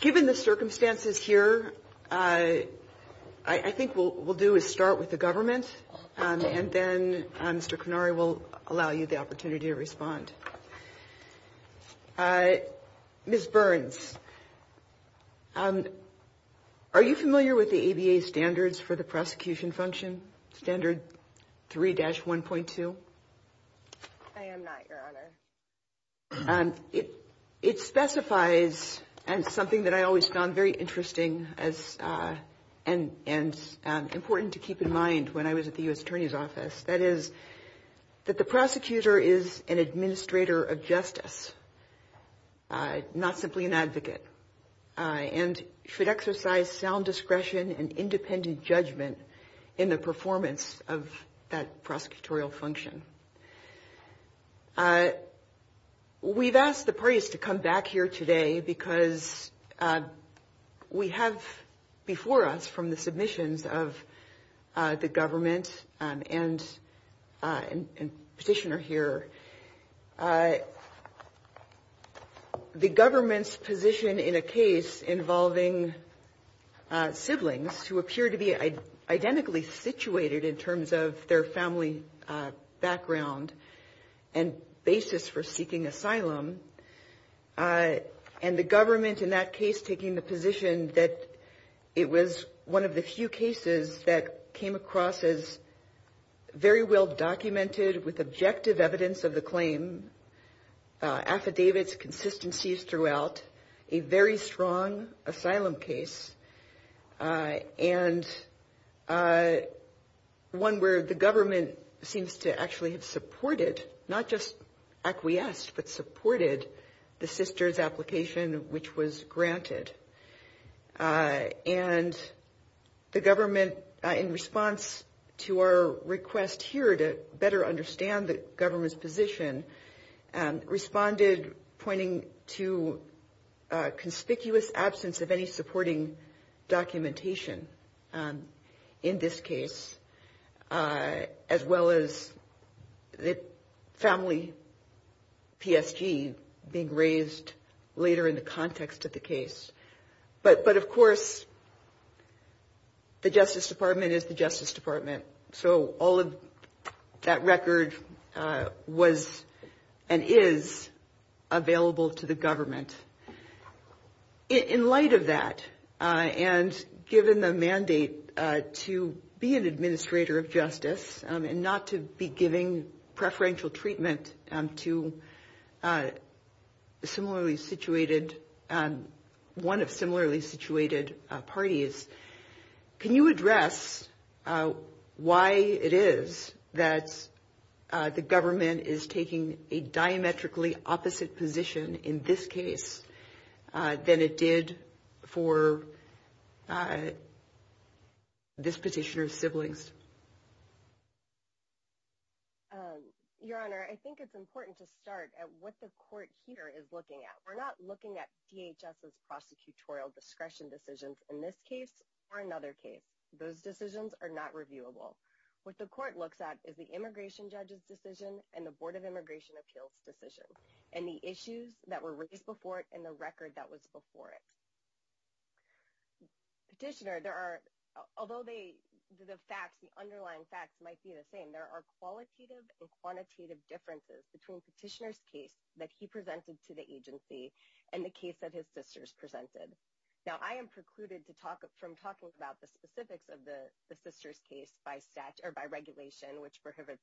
Given the circumstances here, I think what we'll do is start with the government, and then Mr. Kanari will allow you the opportunity to respond. Ms. Burns, are you familiar with the ABA standards for the prosecution function, Standard 3-1.2? I am not, Your Honor. It specifies something that I always found very interesting and important to keep in mind when I was at the U.S. Attorney's Office. That is that the prosecutor is an administrator of justice, not simply an advocate, and should exercise sound discretion and independent judgment in the performance of that prosecutorial function. We've asked the parties to come back here today because we have before us, from the submissions of the government and Petitioner here, the government's position in a case involving siblings who appear to be identically situated in terms of their family background and basis for seeking asylum. And the government in that case taking the position that it was one of the few cases that came across as very well documented with objective evidence of the claim, affidavits, consistencies throughout, a very strong asylum case, and one where the government seems to actually have supported, not just acquiesced, but supported the sister's application which was granted. And the government, in response to our request here to better understand the government's position, responded pointing to a conspicuous absence of any supporting documentation in this case, as well as the family PSG being raised later in the context of the case. But of course, the Justice Department is the Justice Department, so all of that record was and is available to the government. In light of that, and given the mandate to be an administrator of justice and not to be giving preferential treatment to one of similarly situated parties, can you address why it is that the government is taking a diametrically opposite position in this case than it did for this petitioner's siblings? Your Honor, I think it's important to start at what the court here is looking at. We're not looking at DHS's prosecutorial discretion decisions in this case or another case. Those decisions are not reviewable. What the court looks at is the immigration judge's decision and the Board of Immigration Appeals' decision, and the issues that were raised before it and the record that was before it. Although the underlying facts might be the same, there are qualitative and quantitative differences between the petitioner's case that he presented to the agency and the case that his sisters presented. Now, I am precluded from talking about the specifics of the sisters' case by regulation, which prohibits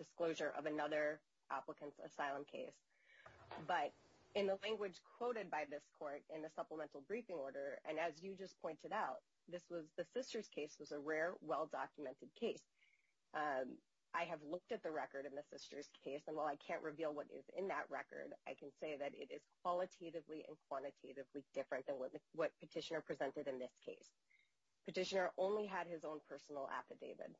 disclosure of another applicant's asylum case. But in the language quoted by this court in the supplemental briefing order, and as you just pointed out, the sisters' case was a rare, well-documented case. I have looked at the record in the sisters' case, and while I can't reveal what is in that record, I can say that it is qualitatively and quantitatively different than what petitioner presented in this case. Petitioner only had his own personal affidavit.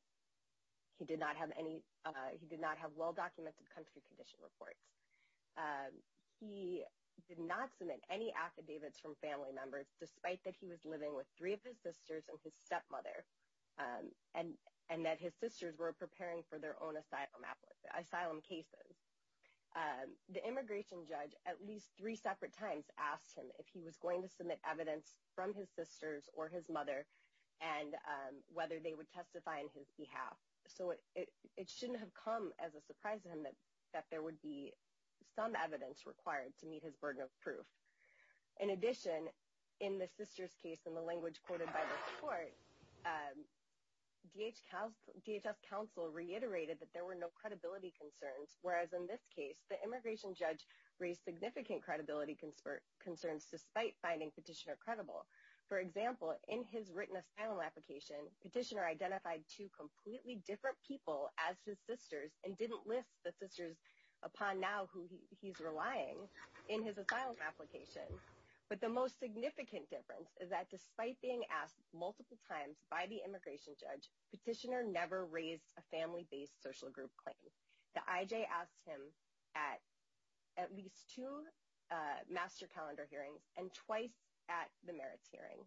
He did not have well-documented country condition reports. He did not submit any affidavits from family members, despite that he was living with three of his sisters and his stepmother, and that his sisters were preparing for their own asylum cases. The immigration judge, at least three separate times, asked him if he was going to submit evidence from his sisters or his mother, and whether they would testify on his behalf. So it shouldn't have come as a surprise to him that there would be some evidence required to meet his burden of proof. In addition, in the sisters' case, in the language quoted by this court, DHS counsel reiterated that there were no credibility concerns, whereas in this case, the immigration judge raised significant credibility concerns, despite finding petitioner credible. For example, in his written asylum application, petitioner identified two completely different people as his sisters, and didn't list the sisters upon now who he's relying in his asylum application. But the most significant difference is that despite being asked multiple times by the immigration judge, petitioner never raised a family-based social group claim. The IJ asked him at least two master calendar hearings, and twice at the merits hearing.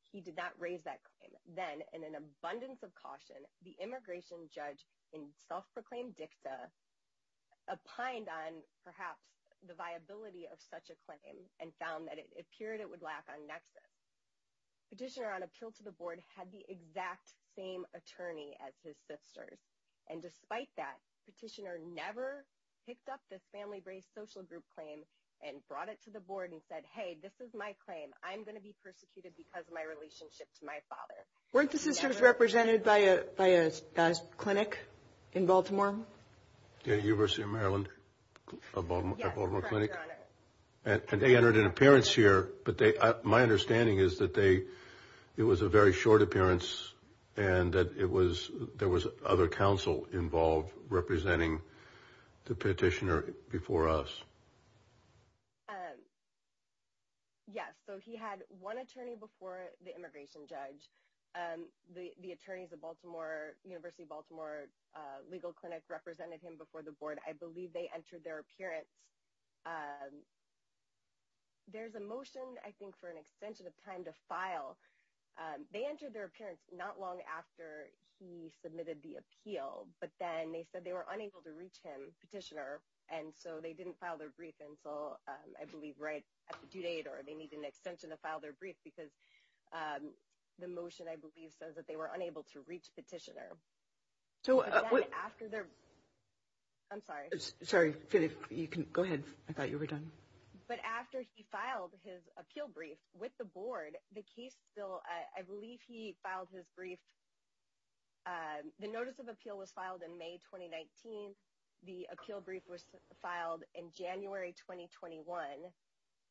He did not raise that claim. Then, in an abundance of caution, the immigration judge, in self-proclaimed dicta, opined on, perhaps, the viability of such a claim, and found that it appeared it would lack on nexus. Petitioner, on appeal to the board, had the exact same attorney as his sisters. And despite that, petitioner never picked up this family-based social group claim and brought it to the board and said, hey, this is my claim. I'm going to be persecuted because of my relationship to my father. Weren't the sisters represented by a clinic in Baltimore? The University of Maryland, a Baltimore clinic? Yes, Your Honor. And they entered an appearance here. But my understanding is that it was a very short appearance and that there was other counsel involved representing the petitioner before us. Yes. So he had one attorney before the immigration judge. The attorneys at the University of Baltimore legal clinic represented him before the board. I believe they entered their appearance. There's a motion, I think, for an extension of time to file. They entered their appearance not long after he submitted the appeal. But then they said they were unable to reach him, petitioner, and so they didn't file their brief until, I believe, right at the due date. Or they need an extension to file their brief because the motion, I believe, says that they were unable to reach petitioner. I'm sorry. Sorry. Go ahead. I thought you were done. But after he filed his appeal brief with the board, the case still, I believe he filed his brief. The notice of appeal was filed in May 2019. The appeal brief was filed in January 2021.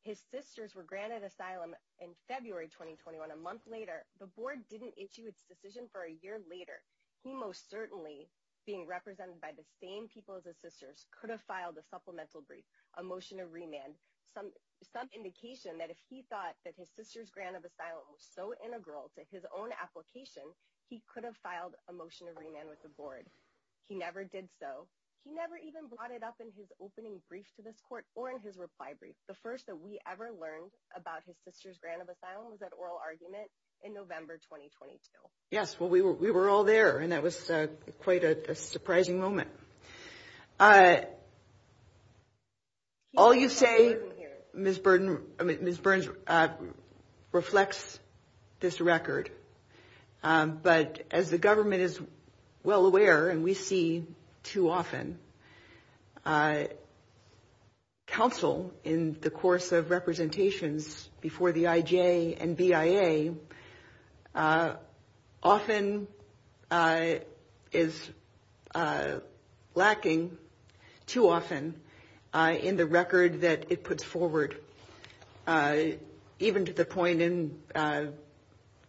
His sisters were granted asylum in February 2021, a month later. The board didn't issue its decision for a year later. He most certainly, being represented by the same people as his sisters, could have filed a supplemental brief, a motion of remand, some indication that if he thought that his sisters' grant of asylum was so integral to his own application, he could have filed a motion of remand with the board. He never did so. He never even brought it up in his opening brief to this court or in his reply brief. The first that we ever learned about his sisters' grant of asylum was that oral argument in November 2022. Yes, well, we were all there, and that was quite a surprising moment. All you say, Ms. Burns, reflects this record. But as the government is well aware, and we see too often, counsel in the course of representations before the IJ and BIA often is lacking too often in the record that it puts forward. Even to the point in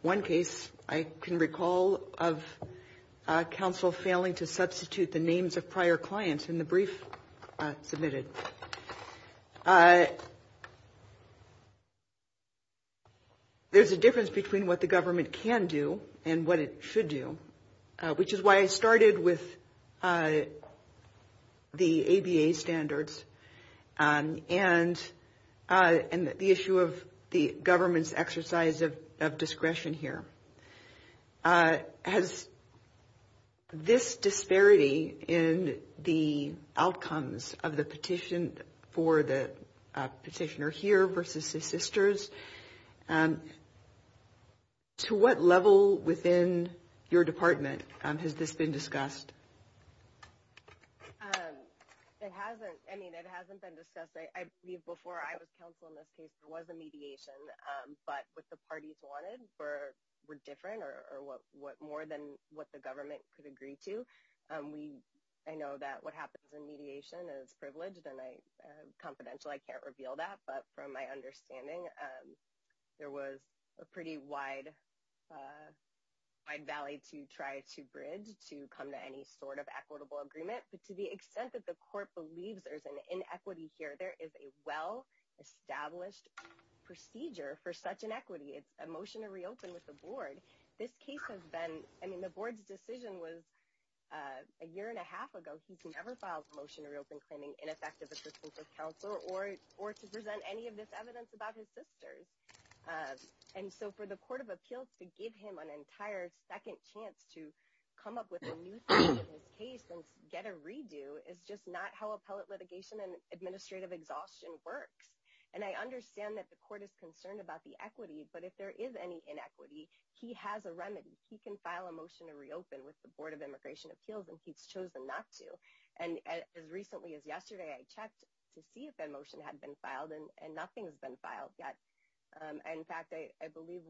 one case, I can recall of counsel failing to substitute the names of prior clients in the brief submitted. There's a difference between what the government can do and what it should do, which is why I started with the ABA standards and the issue of the government's exercise of discretion here. Has this disparity in the outcomes of the petition for the petitioner here versus his sisters, to what level within your department has this been discussed? It hasn't. I mean, it hasn't been discussed. Before I was counsel in this case, there was a mediation, but what the parties wanted were different or more than what the government could agree to. I know that what happens in mediation is privileged and confidential. I can't reveal that. But from my understanding, there was a pretty wide valley to try to bridge to come to any sort of equitable agreement. But to the extent that the court believes there's an inequity here, there is a well-established procedure for such an equity. It's a motion to reopen with the board. This case has been, I mean, the board's decision was a year and a half ago. He's never filed a motion to reopen claiming ineffective assistance of counsel or to present any of this evidence about his sisters. And so for the court of appeals to give him an entire second chance to come up with a new case and get a redo is just not how appellate litigation and administrative exhaustion works. And I understand that the court is concerned about the equity. But if there is any inequity, he has a remedy. He can file a motion to reopen with the Board of Immigration Appeals and he's chosen not to. And as recently as yesterday, I checked to see if that motion had been filed and nothing has been filed yet. In fact, I believe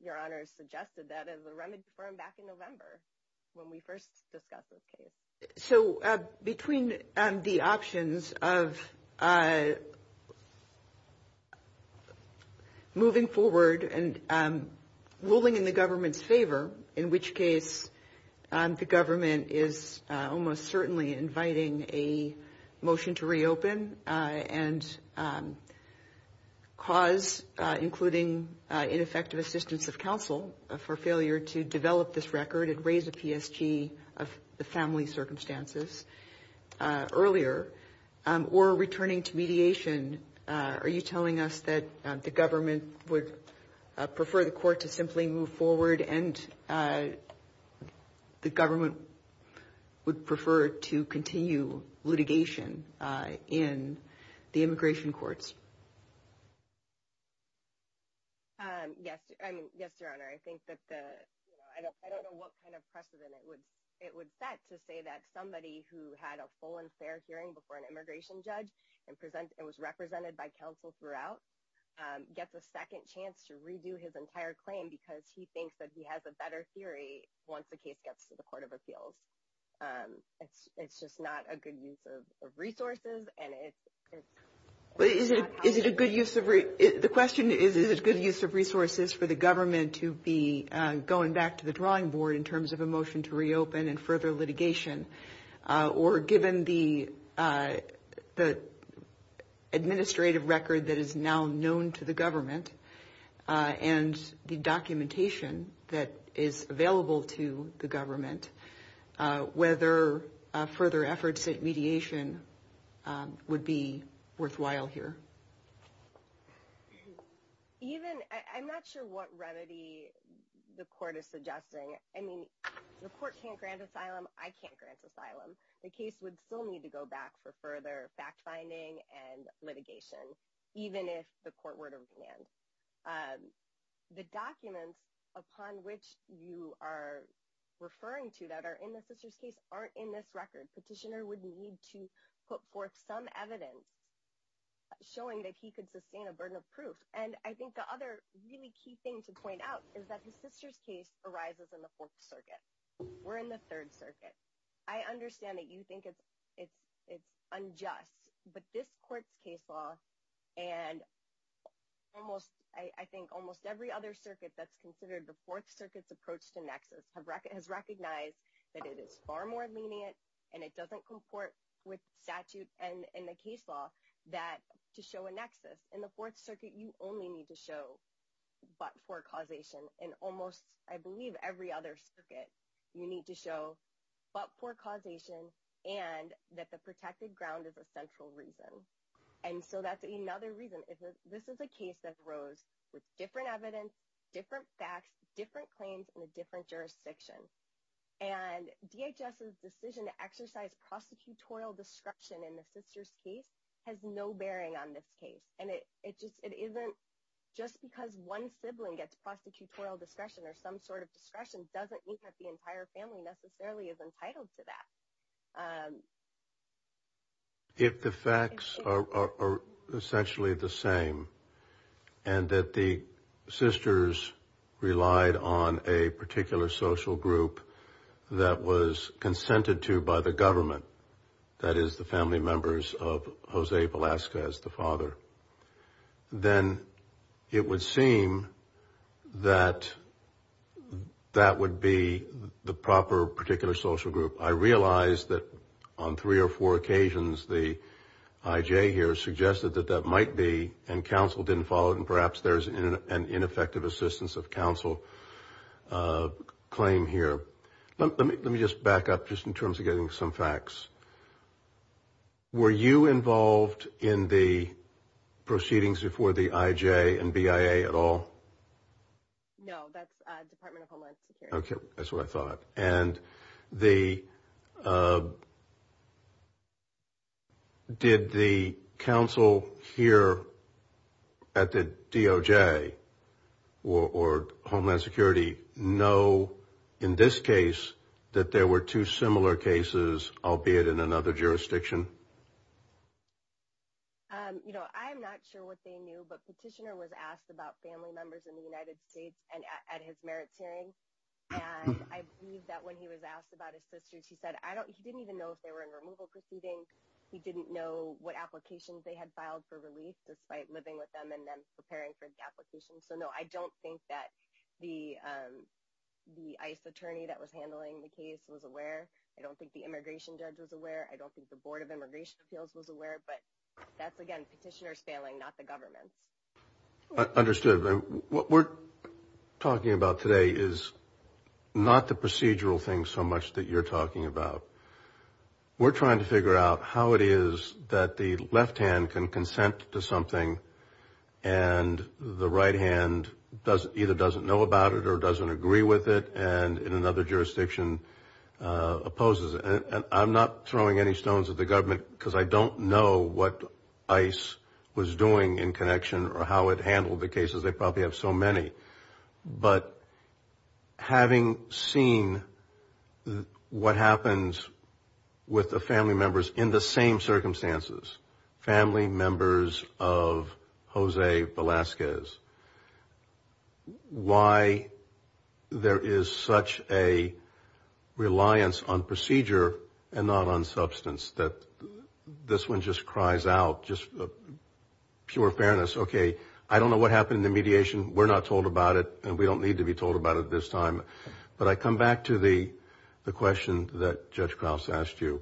your honor suggested that as a remedy for him back in November when we first discussed this case. So between the options of moving forward and ruling in the government's favor, in which case the government is almost certainly inviting a motion to reopen and cause, including ineffective assistance of counsel for failure to develop this record and raise a PSG of the family circumstances earlier or returning to mediation. And are you telling us that the government would prefer the court to simply move forward and the government would prefer to continue litigation in the immigration courts? Yes. I mean, yes, your honor. I think that I don't know what kind of precedent it would it would set to say that somebody who had a full and fair hearing before an immigration judge and present and was represented by counsel throughout gets a second chance to redo his entire claim because he thinks that he has a better theory once the case gets to the court of appeals. It's just not a good use of resources and it is. Is it a good use of the question? Is it a good use of resources for the government to be going back to the drawing board in terms of a motion to reopen and further litigation? Or given the the administrative record that is now known to the government and the documentation that is available to the government, whether further efforts at mediation would be worthwhile here? Even I'm not sure what remedy the court is suggesting. I mean, the court can't grant asylum. I can't grant asylum. The case would still need to go back for further fact finding and litigation, even if the court were to land. The documents upon which you are referring to that are in the sister's case aren't in this record. Petitioner would need to put forth some evidence showing that he could sustain a burden of proof. And I think the other really key thing to point out is that the sister's case arises in the Fourth Circuit. We're in the Third Circuit. I understand that you think it's it's it's unjust, but this court's case law and almost I think almost every other circuit that's considered the Fourth Circuit's approach to nexus has recognized that it is far more lenient and it doesn't comport with statute and in the case law that to show a nexus. In the Fourth Circuit, you only need to show but for causation and almost I believe every other circuit you need to show but for causation and that the protected ground is a central reason. And so that's another reason. This is a case that arose with different evidence, different facts, different claims in a different jurisdiction. And DHS's decision to exercise prosecutorial discretion in the sister's case has no bearing on this case. And it just it isn't just because one sibling gets prosecutorial discretion or some sort of discretion doesn't mean that the entire family necessarily is entitled to that. If the facts are essentially the same and that the sisters relied on a particular social group that was consented to by the government, that is the family members of Jose Velasquez, the father, then it would seem that that would be the proper particular social group. I realize that on three or four occasions the IJ here suggested that that might be and counsel didn't follow and perhaps there's an ineffective assistance of counsel claim here. Let me just back up just in terms of getting some facts. Were you involved in the proceedings before the IJ and BIA at all? No, that's Department of Homeland Security. OK, that's what I thought. And the. Did the counsel here at the DOJ or Homeland Security know in this case that there were two similar cases, albeit in another jurisdiction? You know, I'm not sure what they knew, but petitioner was asked about family members in the United States and at his merits hearing. And I believe that when he was asked about his sister, she said, I don't he didn't even know if they were in removal proceeding. He didn't know what applications they had filed for relief despite living with them and then preparing for the application. So, no, I don't think that the the ICE attorney that was handling the case was aware. I don't think the immigration judge was aware. I don't think the Board of Immigration Appeals was aware. But that's, again, petitioners failing, not the government. Understood. What we're talking about today is not the procedural thing so much that you're talking about. We're trying to figure out how it is that the left hand can consent to something and the right hand does either doesn't know about it or doesn't agree with it. And in another jurisdiction opposes it. And I'm not throwing any stones at the government because I don't know what ICE was doing in connection or how it handled the cases. They probably have so many. But having seen what happens with the family members in the same circumstances, family members of Jose Velasquez, why there is such a reliance on procedure and not on substance that this one just cries out, just pure fairness, okay, I don't know what happened to me. We're not told about it and we don't need to be told about it this time. But I come back to the question that Judge Krause asked you.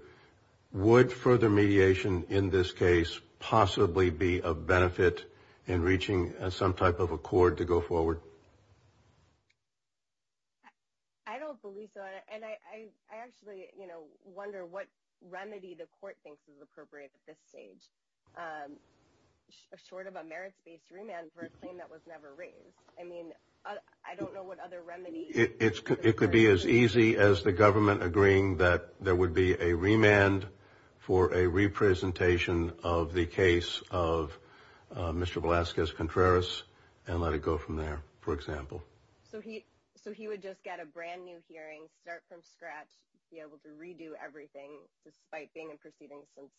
Would further mediation in this case possibly be a benefit in reaching some type of accord to go forward? I don't believe so. And I actually wonder what remedy the court thinks is appropriate at this stage. Short of a merits-based remand for a claim that was never raised. I mean, I don't know what other remedies. It could be as easy as the government agreeing that there would be a remand for a representation of the case of Mr. Velasquez-Contreras and let it go from there, for example. So he would just get a brand new hearing, start from scratch, be able to redo everything despite being in proceedings since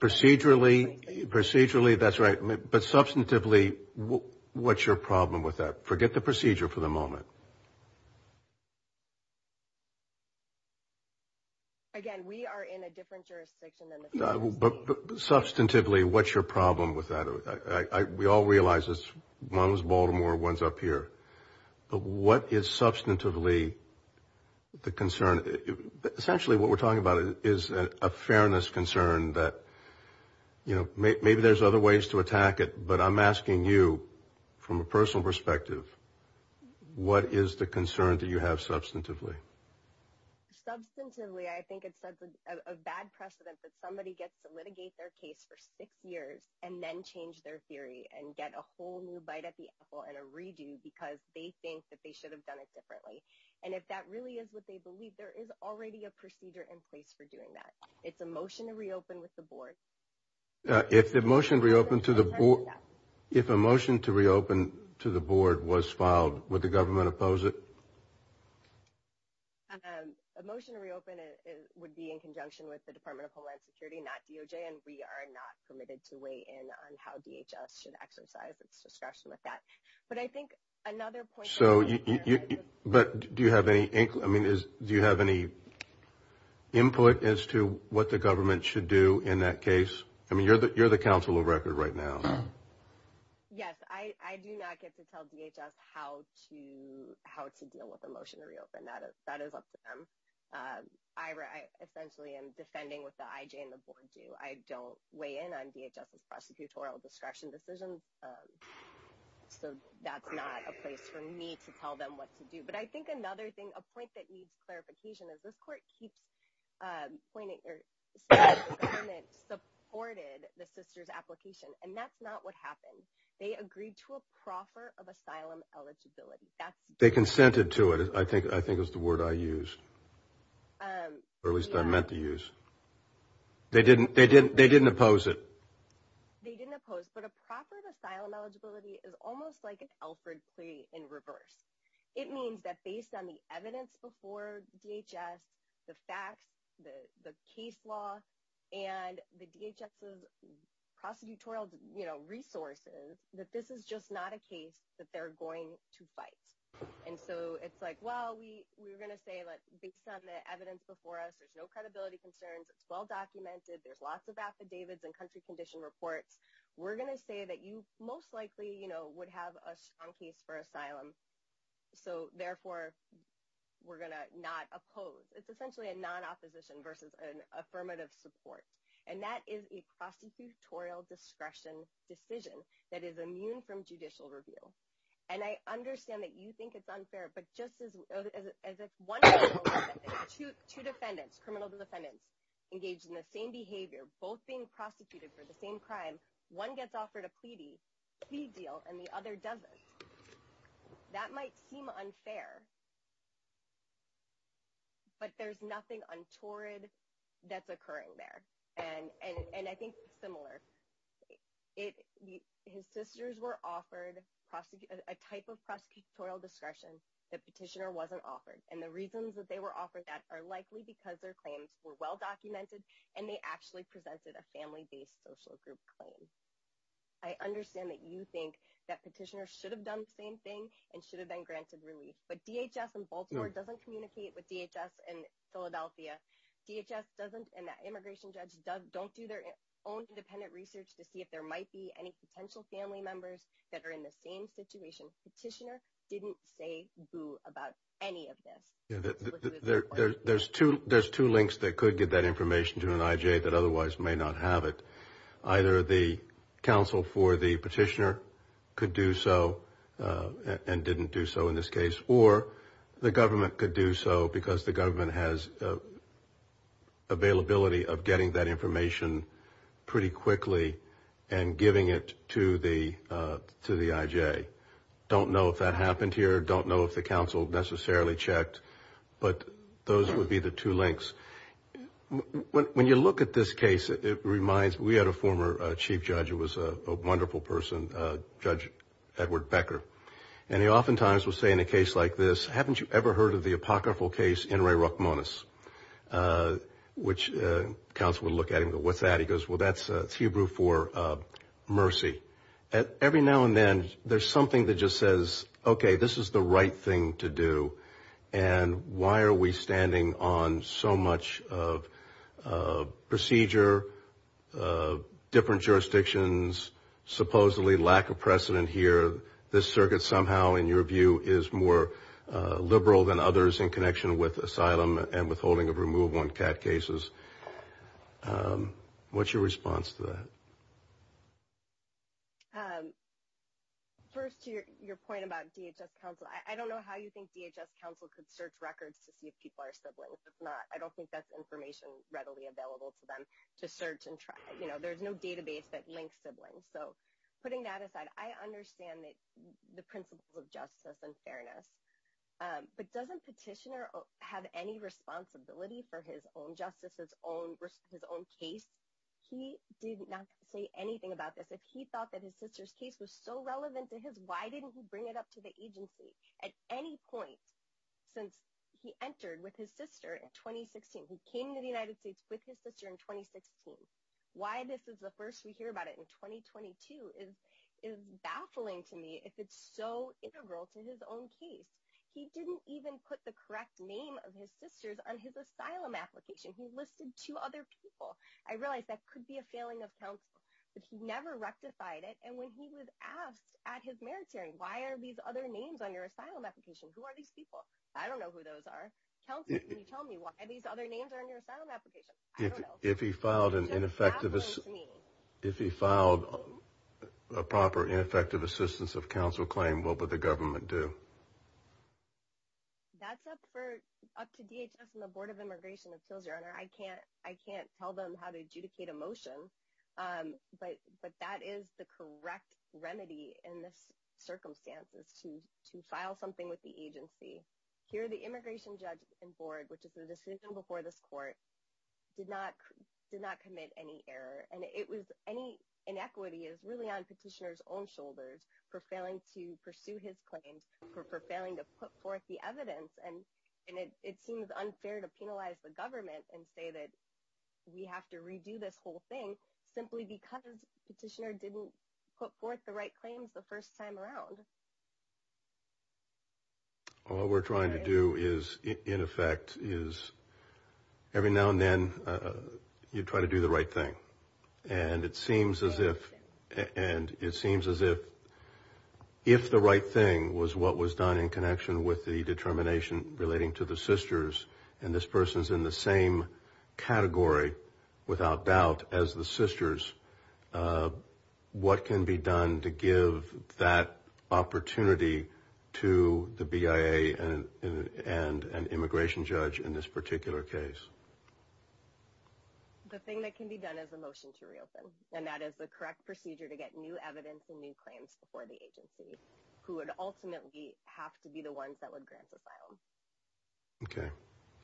2010? Procedurally, procedurally, that's right. But substantively, what's your problem with that? Forget the procedure for the moment. Again, we are in a different jurisdiction. But substantively, what's your problem with that? We all realize it's one of those Baltimore ones up here. But what is substantively the concern? Essentially, what we're talking about is a fairness concern that maybe there's other ways to attack it. But I'm asking you from a personal perspective, what is the concern that you have substantively? Substantively, I think it sets a bad precedent that somebody gets to litigate their case for six years and then change their theory and get a whole new bite at the apple and a redo because they think that they should have done it differently. And if that really is what they believe, there is already a procedure in place for doing that. It's a motion to reopen with the board. If a motion to reopen to the board was filed, would the government oppose it? A motion to reopen would be in conjunction with the Department of Homeland Security, not DOJ, and we are not permitted to weigh in on how DHS should exercise its discretion with that. Do you have any input as to what the government should do in that case? You're the counsel of record right now. Yes, I do not get to tell DHS how to deal with a motion to reopen. That is up to them. I essentially am defending what the IJ and the board do. I don't weigh in on DHS's prosecutorial discretion decisions, so that's not a place for me to tell them what to do. But I think another thing, a point that needs clarification, is this court keeps pointing, or says the government supported the sister's application, and that's not what happened. They agreed to a proffer of asylum eligibility. They consented to it, I think is the word I used, or at least I meant to use. They didn't oppose it. They didn't oppose, but a proffer of asylum eligibility is almost like an Alfred plea in reverse. It means that based on the evidence before DHS, the facts, the case law, and the DHS's prosecutorial resources, that this is just not a case that they're going to fight. And so it's like, well, we were going to say, based on the evidence before us, there's no credibility concerns, it's well documented, there's lots of affidavits and country condition reports. We're going to say that you most likely would have a strong case for asylum, so therefore we're going to not oppose. It's essentially a non-opposition versus an affirmative support. And that is a prosecutorial discretion decision that is immune from judicial review. And I understand that you think it's unfair, but just as one person, two defendants, criminal defendants engaged in the same behavior, both being prosecuted for the same crime, one gets offered a plea deal and the other doesn't. That might seem unfair, but there's nothing untoward that's occurring there. His sisters were offered a type of prosecutorial discretion that Petitioner wasn't offered. And the reasons that they were offered that are likely because their claims were well documented and they actually presented a family-based social group claim. I understand that you think that Petitioner should have done the same thing and should have been granted relief, but DHS in Baltimore doesn't communicate with DHS in Philadelphia. DHS doesn't and that immigration judge don't do their own independent research to see if there might be any potential family members that are in the same situation. Petitioner didn't say boo about any of this. There's two links that could get that information to an IJ that otherwise may not have it. Either the counsel for the Petitioner could do so and didn't do so in this case, or the government could do so because the government has availability of getting that information pretty quickly and giving it to the IJ. Don't know if that happened here. Don't know if the counsel necessarily checked, but those would be the two links. When you look at this case, it reminds, we had a former chief judge who was a wonderful person, Judge Edward Becker. And he oftentimes would say in a case like this, haven't you ever heard of the apocryphal case in Ray Rockmonis? Which counsel would look at him and go, what's that? He goes, well, that's Hebrew for mercy. Every now and then, there's something that just says, okay, this is the right thing to do. And why are we standing on so much of procedure, different jurisdictions, supposedly lack of precedent here? This circuit somehow, in your view, is more liberal than others in connection with asylum and withholding of removal in CAD cases. What's your response to that? First, to your point about DHS counsel, I don't know how you think DHS counsel could search records to see if people are siblings. It's not. I don't think that's information readily available to them to search and try. There's no database that links siblings. So putting that aside, I understand the principles of justice and fairness. But doesn't Petitioner have any responsibility for his own justice, his own case? He did not say anything about this. If he thought that his sister's case was so relevant to his, why didn't he bring it up to the agency at any point since he entered with his sister in 2016? He came to the United States with his sister in 2016. Why this is the first we hear about it in 2022 is baffling to me, if it's so integral to his own case. He didn't even put the correct name of his sister's on his asylum application. He listed two other people. I realize that could be a failing of counsel, but he never rectified it. And when he was asked at his merit hearing, why are these other names on your asylum application? Who are these people? I don't know who those are. Counsel, can you tell me why these other names are in your asylum application? I don't know. If he filed a proper ineffective assistance of counsel claim, what would the government do? That's up to DHS and the Board of Immigration. I can't tell them how to adjudicate a motion, but that is the correct remedy in this circumstance to file something with the agency. Here the immigration judge and board, which is the decision before this court, did not commit any error. And it was any inequity is really on petitioner's own shoulders for failing to pursue his claims, for failing to put forth the evidence. And it seems unfair to penalize the government and say that we have to redo this whole thing simply because petitioner didn't put forth the right claims the first time around. All we're trying to do is, in effect, is every now and then you try to do the right thing. And it seems as if if the right thing was what was done in connection with the determination relating to the sisters, and this person's in the same category without doubt as the sisters, what can be done to give that opportunity to the BIA and an immigration judge in this particular case? The thing that can be done is a motion to reopen, and that is the correct procedure to get new evidence and new claims before the agency, who would ultimately have to be the ones that would grant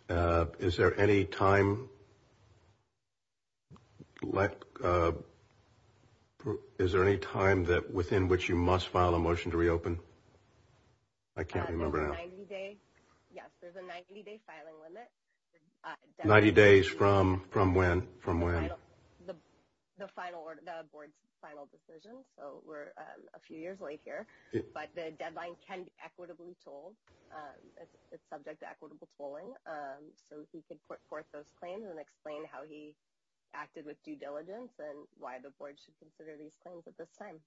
asylum. OK, is there any time? Is there any time that within which you must file a motion to reopen? I can't remember now. Yes, there's a 90-day filing limit. Ninety days from when? The final order, the board's final decision. So we're a few years late here, but the deadline can be equitably told. It's subject to equitable tolling. So he could put forth those claims and explain how he acted with due diligence and why the board should consider these claims at this time.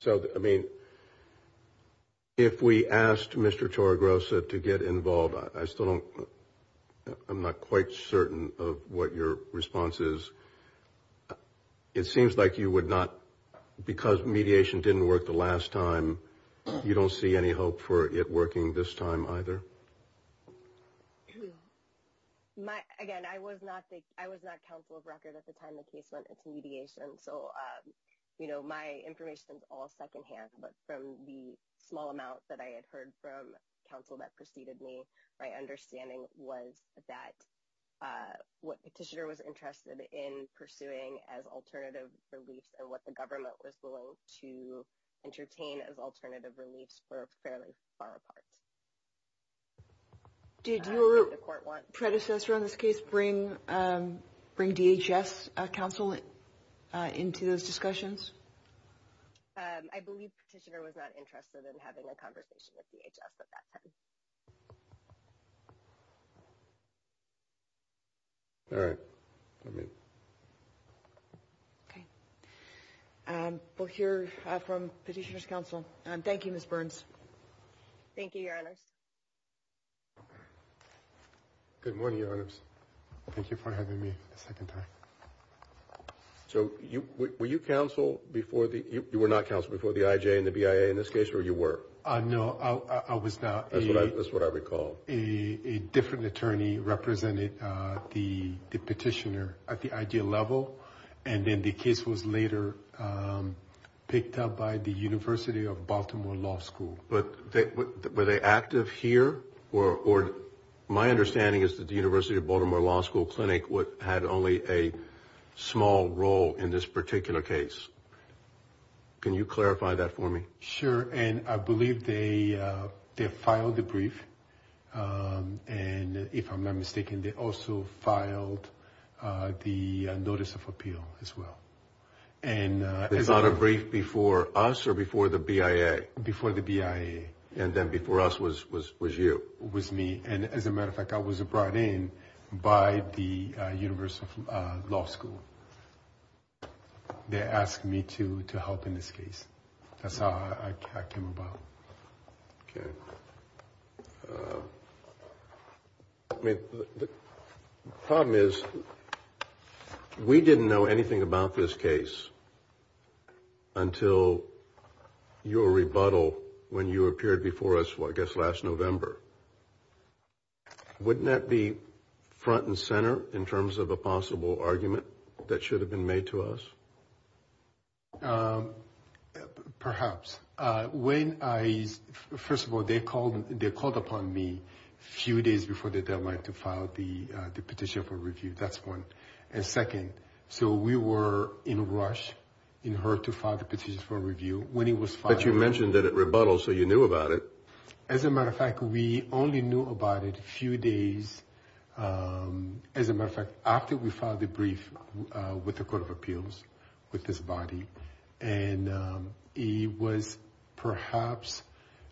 So, I mean, if we asked Mr. Choragrosa to get involved, I still don't I'm not quite certain of what your response is. It seems like you would not because mediation didn't work the last time. You don't see any hope for it working this time either. Again, I was not I was not counsel of record at the time the case went into mediation. So, you know, my information is all secondhand. But from the small amount that I had heard from counsel that preceded me, my understanding was that what petitioner was interested in pursuing as alternative reliefs and what the government was willing to entertain as alternative reliefs were fairly far apart. Did your predecessor in this case bring bring DHS counsel? Into those discussions? I believe petitioner was not interested in having a conversation with DHS at that time. All right. OK. We'll hear from petitioner's counsel. Thank you, Ms. Burns. Thank you, Your Honors. Good morning, Your Honors. Thank you for having me a second time. So you were you counsel before the you were not counsel before the IJ and the BIA in this case or you were? No, I was not. That's what I recall. A different attorney represented the petitioner at the ideal level. And then the case was later picked up by the University of Baltimore Law School. But were they active here? Or my understanding is that the University of Baltimore Law School Clinic had only a small role in this particular case. Can you clarify that for me? Sure. And I believe they they filed the brief. And if I'm not mistaken, they also filed the notice of appeal as well. And there's not a brief before us or before the BIA, before the BIA. And then before us was was was you was me. And as a matter of fact, I was brought in by the University of Law School. They asked me to to help in this case. That's how I came about. OK. The problem is we didn't know anything about this case until your rebuttal when you appeared before us, I guess, last November. Wouldn't that be front and center in terms of a possible argument that should have been made to us? Perhaps. When I first of all, they called they called upon me a few days before the deadline to file the petition for review. That's one. And second. So we were in a rush in her to file the petition for review when he was fine. But you mentioned that it rebuttals. So you knew about it. As a matter of fact, we only knew about it a few days. As a matter of fact, after we filed the brief with the Court of Appeals with this body. And he was perhaps,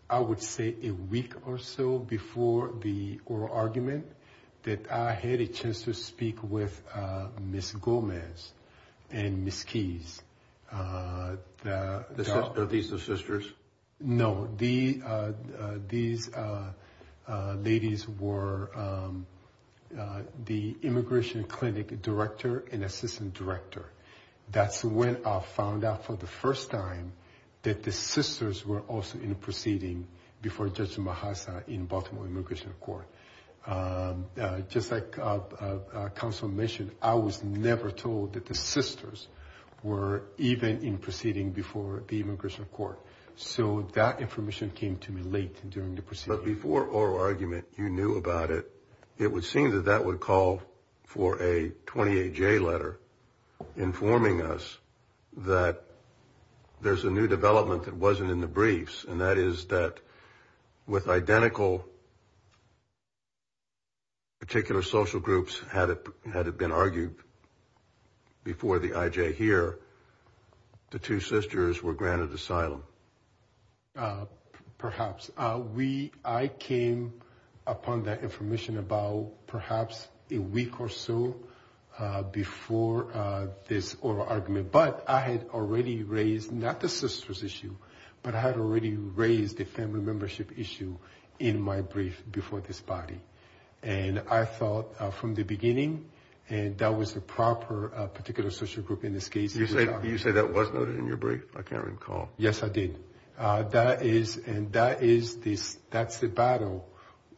I would say, a week or so before the oral argument that I had a chance to speak with Miss Gomez and Miss Keys. Are these the sisters? No, the these ladies were the immigration clinic director and assistant director. That's when I found out for the first time that the sisters were also in proceeding before Judge Mahassa in Baltimore Immigration Court. Just like counsel mentioned, I was never told that the sisters were even in proceeding before the immigration court. So that information came to me late during the proceedings. But before oral argument, you knew about it. It would seem that that would call for a 28 J letter informing us that there's a new development that wasn't in the briefs. And that is that with identical. Particular social groups had it had it been argued. Before the IJ here. The two sisters were granted asylum. Perhaps we I came upon that information about perhaps a week or so before this oral argument. But I had already raised not the sisters issue, but I had already raised the family membership issue in my brief before this body. And I thought from the beginning and that was the proper particular social group in this case. You say you say that was noted in your brief. I can't recall. Yes, I did. That is and that is this. That's the battle.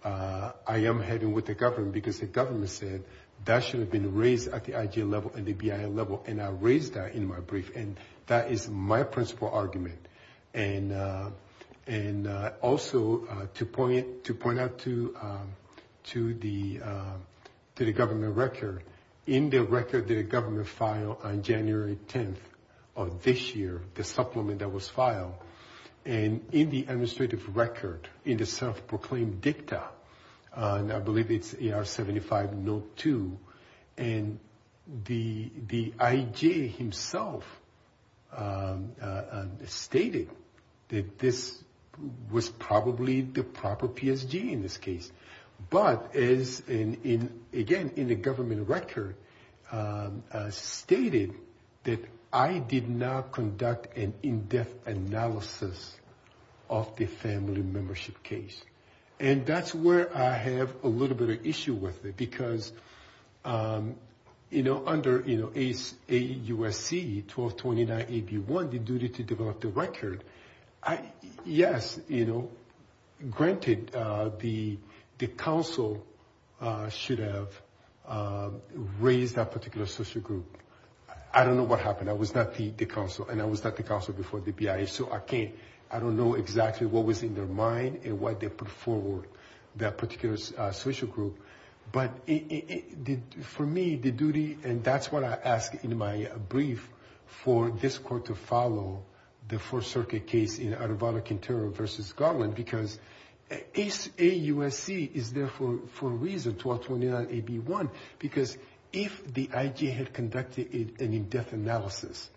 I am heading with the government because the government said that should have been raised at the IJ level and the BIA level. And I raised that in my brief. And that is my principle argument. And and also to point to point out to to the to the government record in the record. The government file on January 10th of this year, the supplement that was filed and in the administrative record in the self-proclaimed dicta. And I believe it's 75, no two. And the the IJ himself stated that this was probably the proper PSG in this case. But is in again in the government record stated that I did not conduct an in-depth analysis of the family membership case. And that's where I have a little bit of issue with it, because, you know, under, you know, a U.S.C. 1229. If you want the duty to develop the record. Yes. You know, granted, the council should have raised that particular social group. I don't know what happened. I was not the council and I was not the council before the BIA. So I can't I don't know exactly what was in their mind and what they put forward that particular social group. But it did for me the duty. And that's what I ask in my brief for this court to follow. The Fourth Circuit case in out of Vatican terror versus Garland, because it's a U.S.C. is there for four reasons. One, because if the IJ had conducted a death analysis,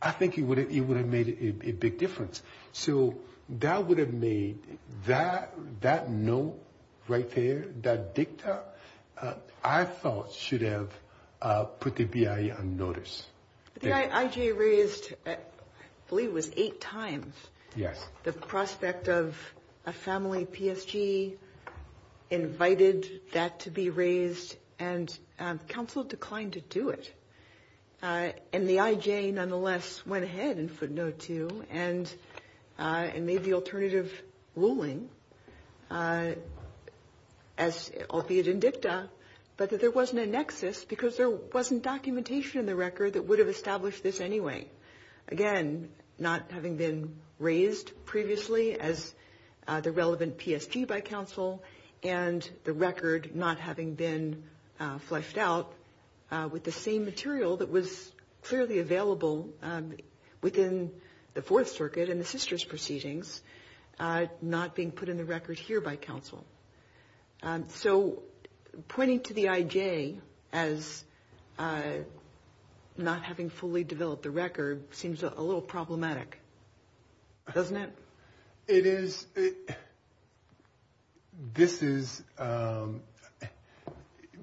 I think he would have made a big difference. So that would have made that that no right there. That Victor, I thought, should have put the BIA on notice. IJ raised Lee was eight times. Yes. The prospect of a family PSG invited that to be raised and counsel declined to do it. And the IJ nonetheless went ahead and footnote to and and made the alternative ruling as albeit in dicta. But there wasn't a nexus because there wasn't documentation in the record that would have established this anyway. Again, not having been raised previously as the relevant PSG by counsel and the record not having been fleshed out with the same material. That was clearly available within the Fourth Circuit and the sisters proceedings not being put in the record here by counsel. So pointing to the IJ as not having fully developed the record seems a little problematic, doesn't it? It is. This is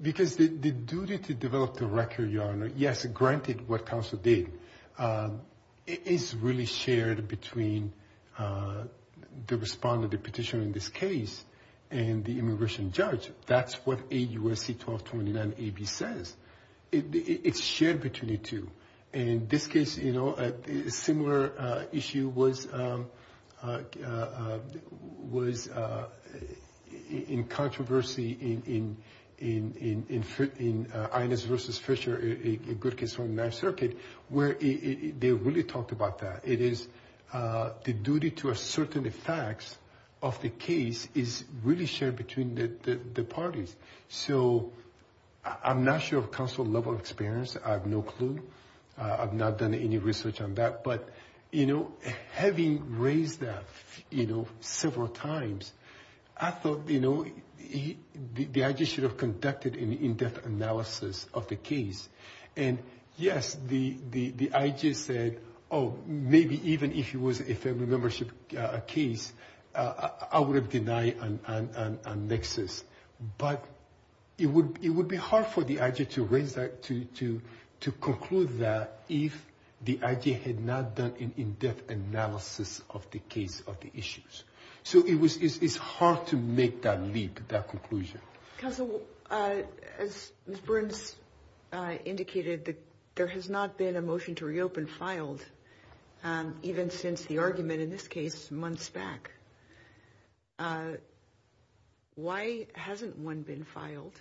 because the duty to develop the record, your Honor. Yes. Granted, what counsel did is really shared between the respondent, the petitioner in this case and the immigration judge. That's what a USC 1229 AB says. It's shared between the two. And in this case, you know, a similar issue was was in controversy in in in in in Inez versus Fisher. A good case on that circuit where they really talked about that. It is the duty to a certain effects of the case is really shared between the parties. So I'm not sure of counsel level of experience. I have no clue. I've not done any research on that. But, you know, having raised that, you know, several times, I thought, you know, the IJ should have conducted an in-depth analysis of the case. And yes, the IJ said, oh, maybe even if it was a membership case, I would have denied a nexus. But it would it would be hard for the IJ to raise that to to to conclude that if the IJ had not done an in-depth analysis of the case of the issues. So it was it's hard to make that leap, that conclusion. Because, as Mr. Burns indicated, there has not been a motion to reopen filed even since the argument in this case months back. Why hasn't one been filed,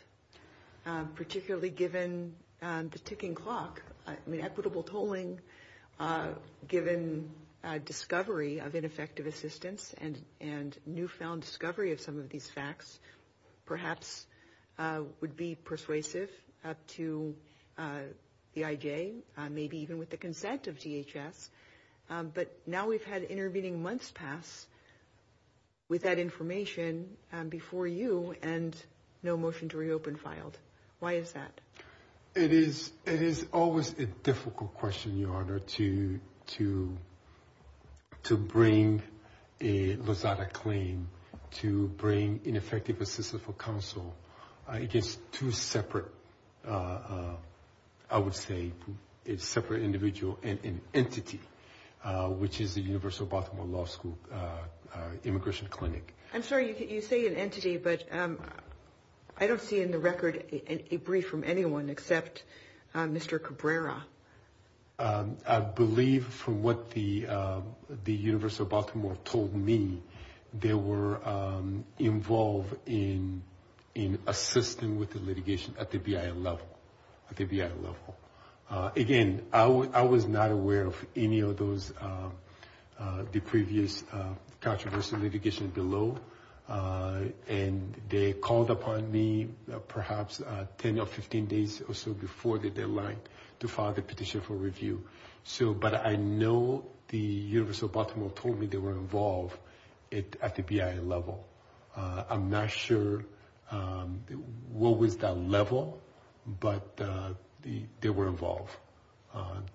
particularly given the ticking clock? I mean, equitable tolling, given discovery of ineffective assistance and and newfound discovery of some of these facts, perhaps would be persuasive to the IJ, maybe even with the consent of DHS. But now we've had intervening months pass with that information before you and no motion to reopen filed. Why is that? It is it is always a difficult question, Your Honor, to to to bring a Lozada claim to bring ineffective assistance for counsel. I guess two separate, I would say it's separate individual and entity, which is the Universal Baltimore Law School Immigration Clinic. I'm sorry you say an entity, but I don't see in the record a brief from anyone except Mr. Cabrera. I believe from what the the Universal Baltimore told me, they were involved in in assisting with the litigation at the BIA level. Again, I was not aware of any of those the previous controversy litigation below. And they called upon me perhaps 10 or 15 days or so before the deadline to file the petition for review. So but I know the Universal Baltimore told me they were involved at the BIA level. I'm not sure what was that level, but they were involved.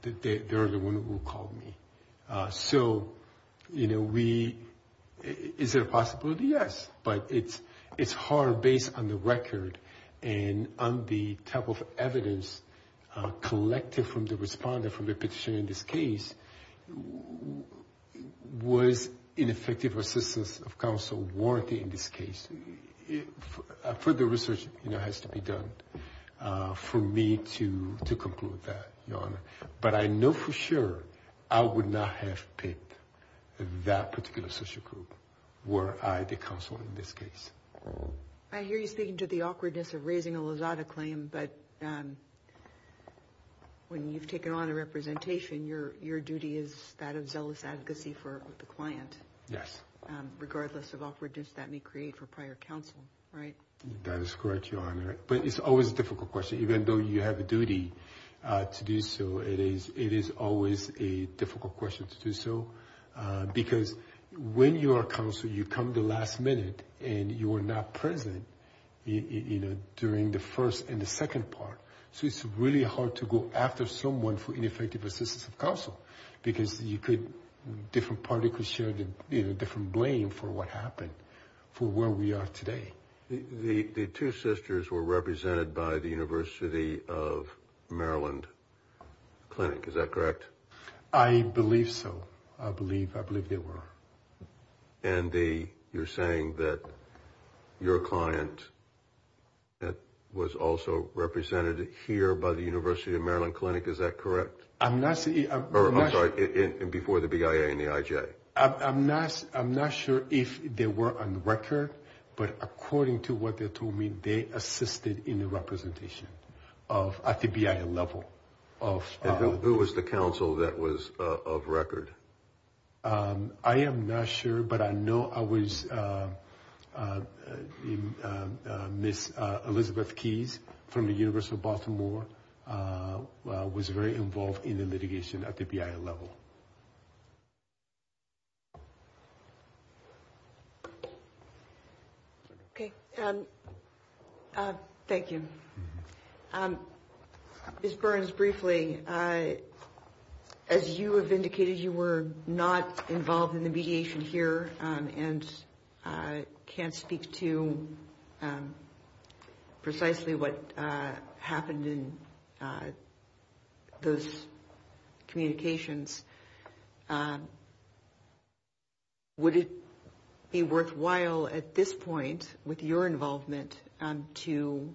They are the one who called me. So, you know, we is there a possibility? Yes. But it's it's hard based on the record and on the type of evidence collected from the responder from the petition in this case. Was ineffective assistance of counsel warranted in this case? Further research has to be done for me to to conclude that. But I know for sure I would not have picked that particular social group were I the counsel in this case. I hear you speaking to the awkwardness of raising a Lazada claim, but when you've taken on a representation, your your duty is that of zealous advocacy for the client. Yes. Regardless of opportunities that may create for prior counsel. Right. That is correct, Your Honor. But it's always a difficult question, even though you have a duty to do so. It is it is always a difficult question to do so, because when you are counsel, you come the last minute and you are not present, you know, during the first and the second part. So it's really hard to go after someone for ineffective assistance of counsel because you could different party could share the different blame for what happened for where we are today. The two sisters were represented by the University of Maryland Clinic, is that correct? I believe so. I believe I believe they were. And the you're saying that your client. That was also represented here by the University of Maryland Clinic, is that correct? I'm sorry. Before the BIA and the IJ. I'm not I'm not sure if they were on record, but according to what they told me, they assisted in the representation of at the BIA level of who was the counsel that was of record. I am not sure, but I know I was. Miss Elizabeth Keys from the University of Baltimore was very involved in the litigation at the BIA level. OK. Thank you. Ms. Burns, briefly, as you have indicated, you were not involved in the mediation here and can't speak to precisely what happened in those communications. Would it be worthwhile at this point with your involvement to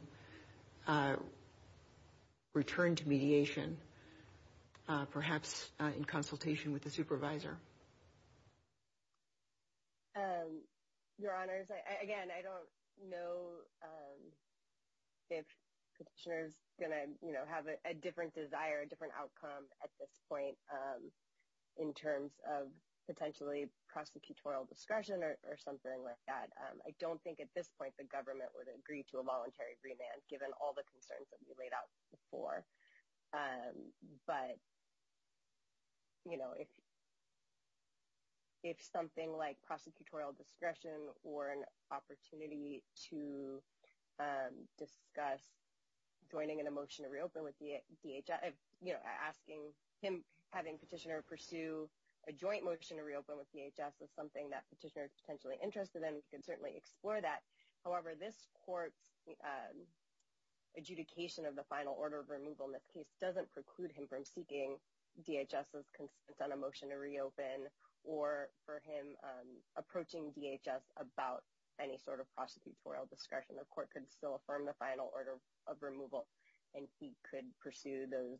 return to mediation, perhaps in consultation with the supervisor? Your honors, again, I don't know if you're going to have a different desire, a different outcome at this point in terms of potentially prosecutorial discretion or something like that. I don't think at this point the government would agree to a voluntary remand, given all the concerns that we laid out before. But, you know, if if something like prosecutorial discretion or an opportunity to discuss joining in a motion to reopen with the DHS, you know, asking him having petitioner pursue a joint motion to reopen with DHS is something that petitioners potentially interested in. You can certainly explore that. However, this court's adjudication of the final order of removal in this case doesn't preclude him from seeking DHS's consent on a motion to reopen or for him approaching DHS about any sort of prosecutorial discretion. The court could still affirm the final order of removal and he could pursue those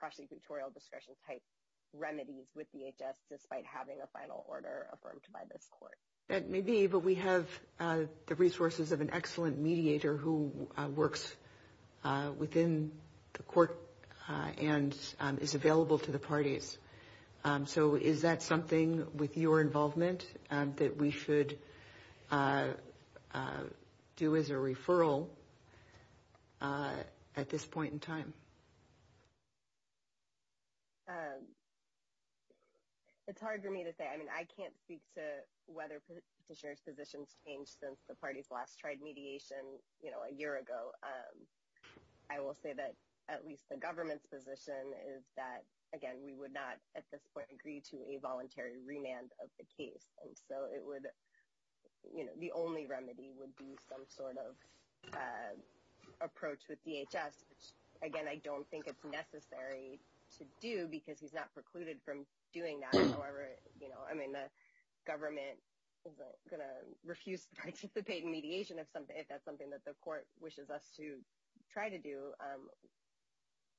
prosecutorial discretion type remedies with DHS, despite having a final order affirmed by this court. That may be, but we have the resources of an excellent mediator who works within the court and is available to the parties. So is that something with your involvement that we should do as a referral at this point in time? It's hard for me to say. I mean, I can't speak to whether petitioner's positions changed since the parties last tried mediation, you know, a year ago. I will say that at least the government's position is that, again, we would not at this point agree to a voluntary remand of the case. And so it would, you know, the only remedy would be some sort of approach with DHS, which, again, I don't think it's necessary to do because he's not precluded from doing that. However, you know, I mean, the government is going to refuse to participate in mediation if that's something that the court wishes us to try to do.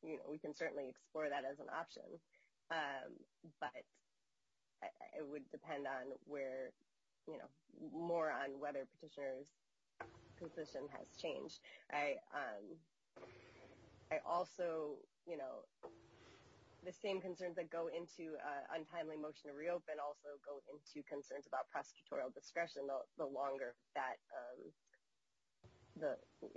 We can certainly explore that as an option, but it would depend on where, you know, more on whether petitioner's position has changed. I also, you know, the same concerns that go into untimely motion to reopen also go into concerns about prosecutorial discretion the longer that,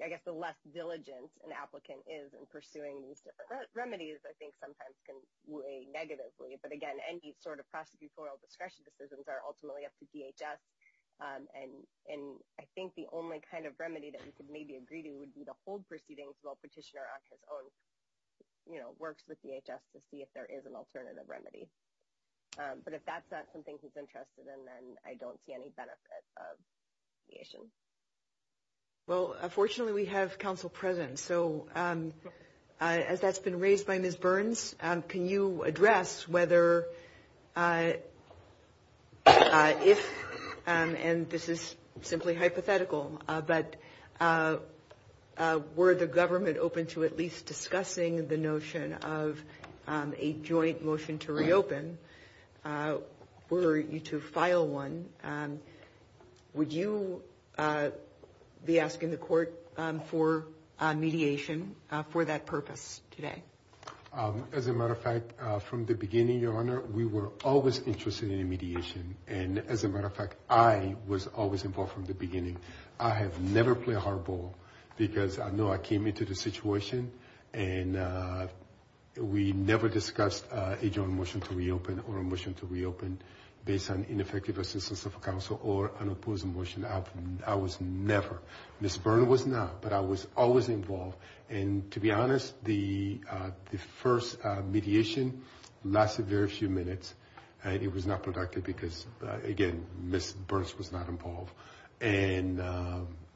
I guess, the less diligent an applicant is in pursuing these different remedies, I think, sometimes can weigh negatively. But, again, any sort of prosecutorial discretion decisions are ultimately up to DHS. And I think the only kind of remedy that we could maybe agree to would be to hold proceedings while petitioner on his own, you know, works with DHS to see if there is an alternative remedy. But if that's not something he's interested in, then I don't see any benefit of mediation. Well, fortunately, we have counsel present. So as that's been raised by Ms. Burns, can you address whether if and this is simply hypothetical, but were the government open to at least discussing the notion of a joint motion to reopen? Were you to file one? Would you be asking the court for mediation for that purpose today? As a matter of fact, from the beginning, Your Honor, we were always interested in mediation. And as a matter of fact, I was always involved from the beginning. I have never played hardball because I know I came into the situation and we never discussed a joint motion to reopen or a motion to reopen based on ineffective assistance of counsel or an opposing motion. I was never. Ms. Burns was not, but I was always involved. And to be honest, the first mediation lasted very few minutes. It was not productive because, again, Ms. Burns was not involved. And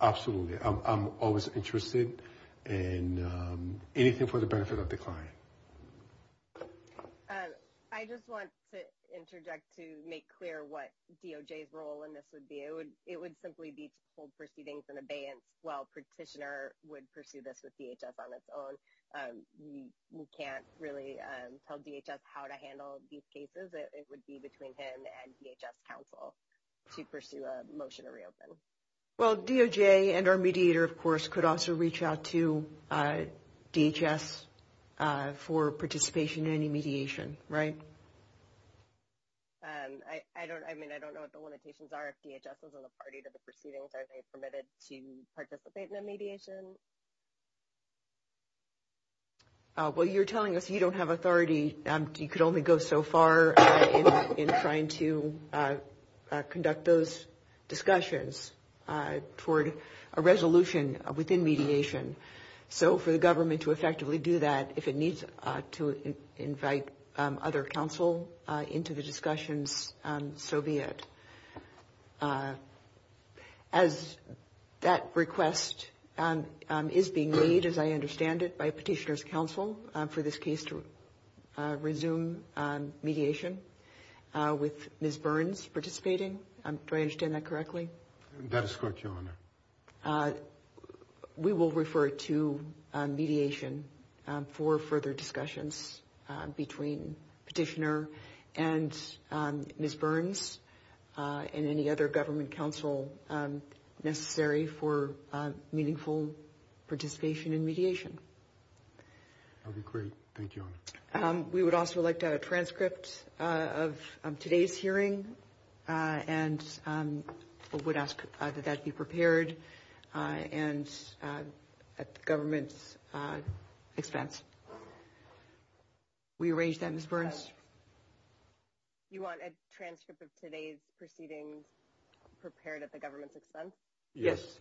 absolutely, I'm always interested in anything for the benefit of the client. I just want to interject to make clear what DOJ's role in this would be. It would simply be to hold proceedings in abeyance while petitioner would pursue this with DHS on its own. We can't really tell DHS how to handle these cases. It would be between him and DHS counsel to pursue a motion to reopen. Well, DOJ and our mediator, of course, could also reach out to DHS for participation in any mediation, right? I mean, I don't know what the limitations are. If DHS wasn't a party to the proceedings, are they permitted to participate in a mediation? Well, you're telling us you don't have authority. You could only go so far in trying to conduct those discussions toward a resolution within mediation. So for the government to effectively do that, if it needs to invite other counsel into the discussions, so be it. As that request is being made, as I understand it, by petitioner's counsel for this case to resume mediation with Ms. Burns participating. Do I understand that correctly? We will refer to mediation for further discussions between petitioner and Ms. Burns and any other government counsel necessary for meaningful participation in mediation. That would be great. Thank you. We would also like to have a transcript of today's hearing and would ask that that be prepared and at the government's expense. We arrange that, Ms. Burns. You want a transcript of today's proceedings prepared at the government's expense? Yes.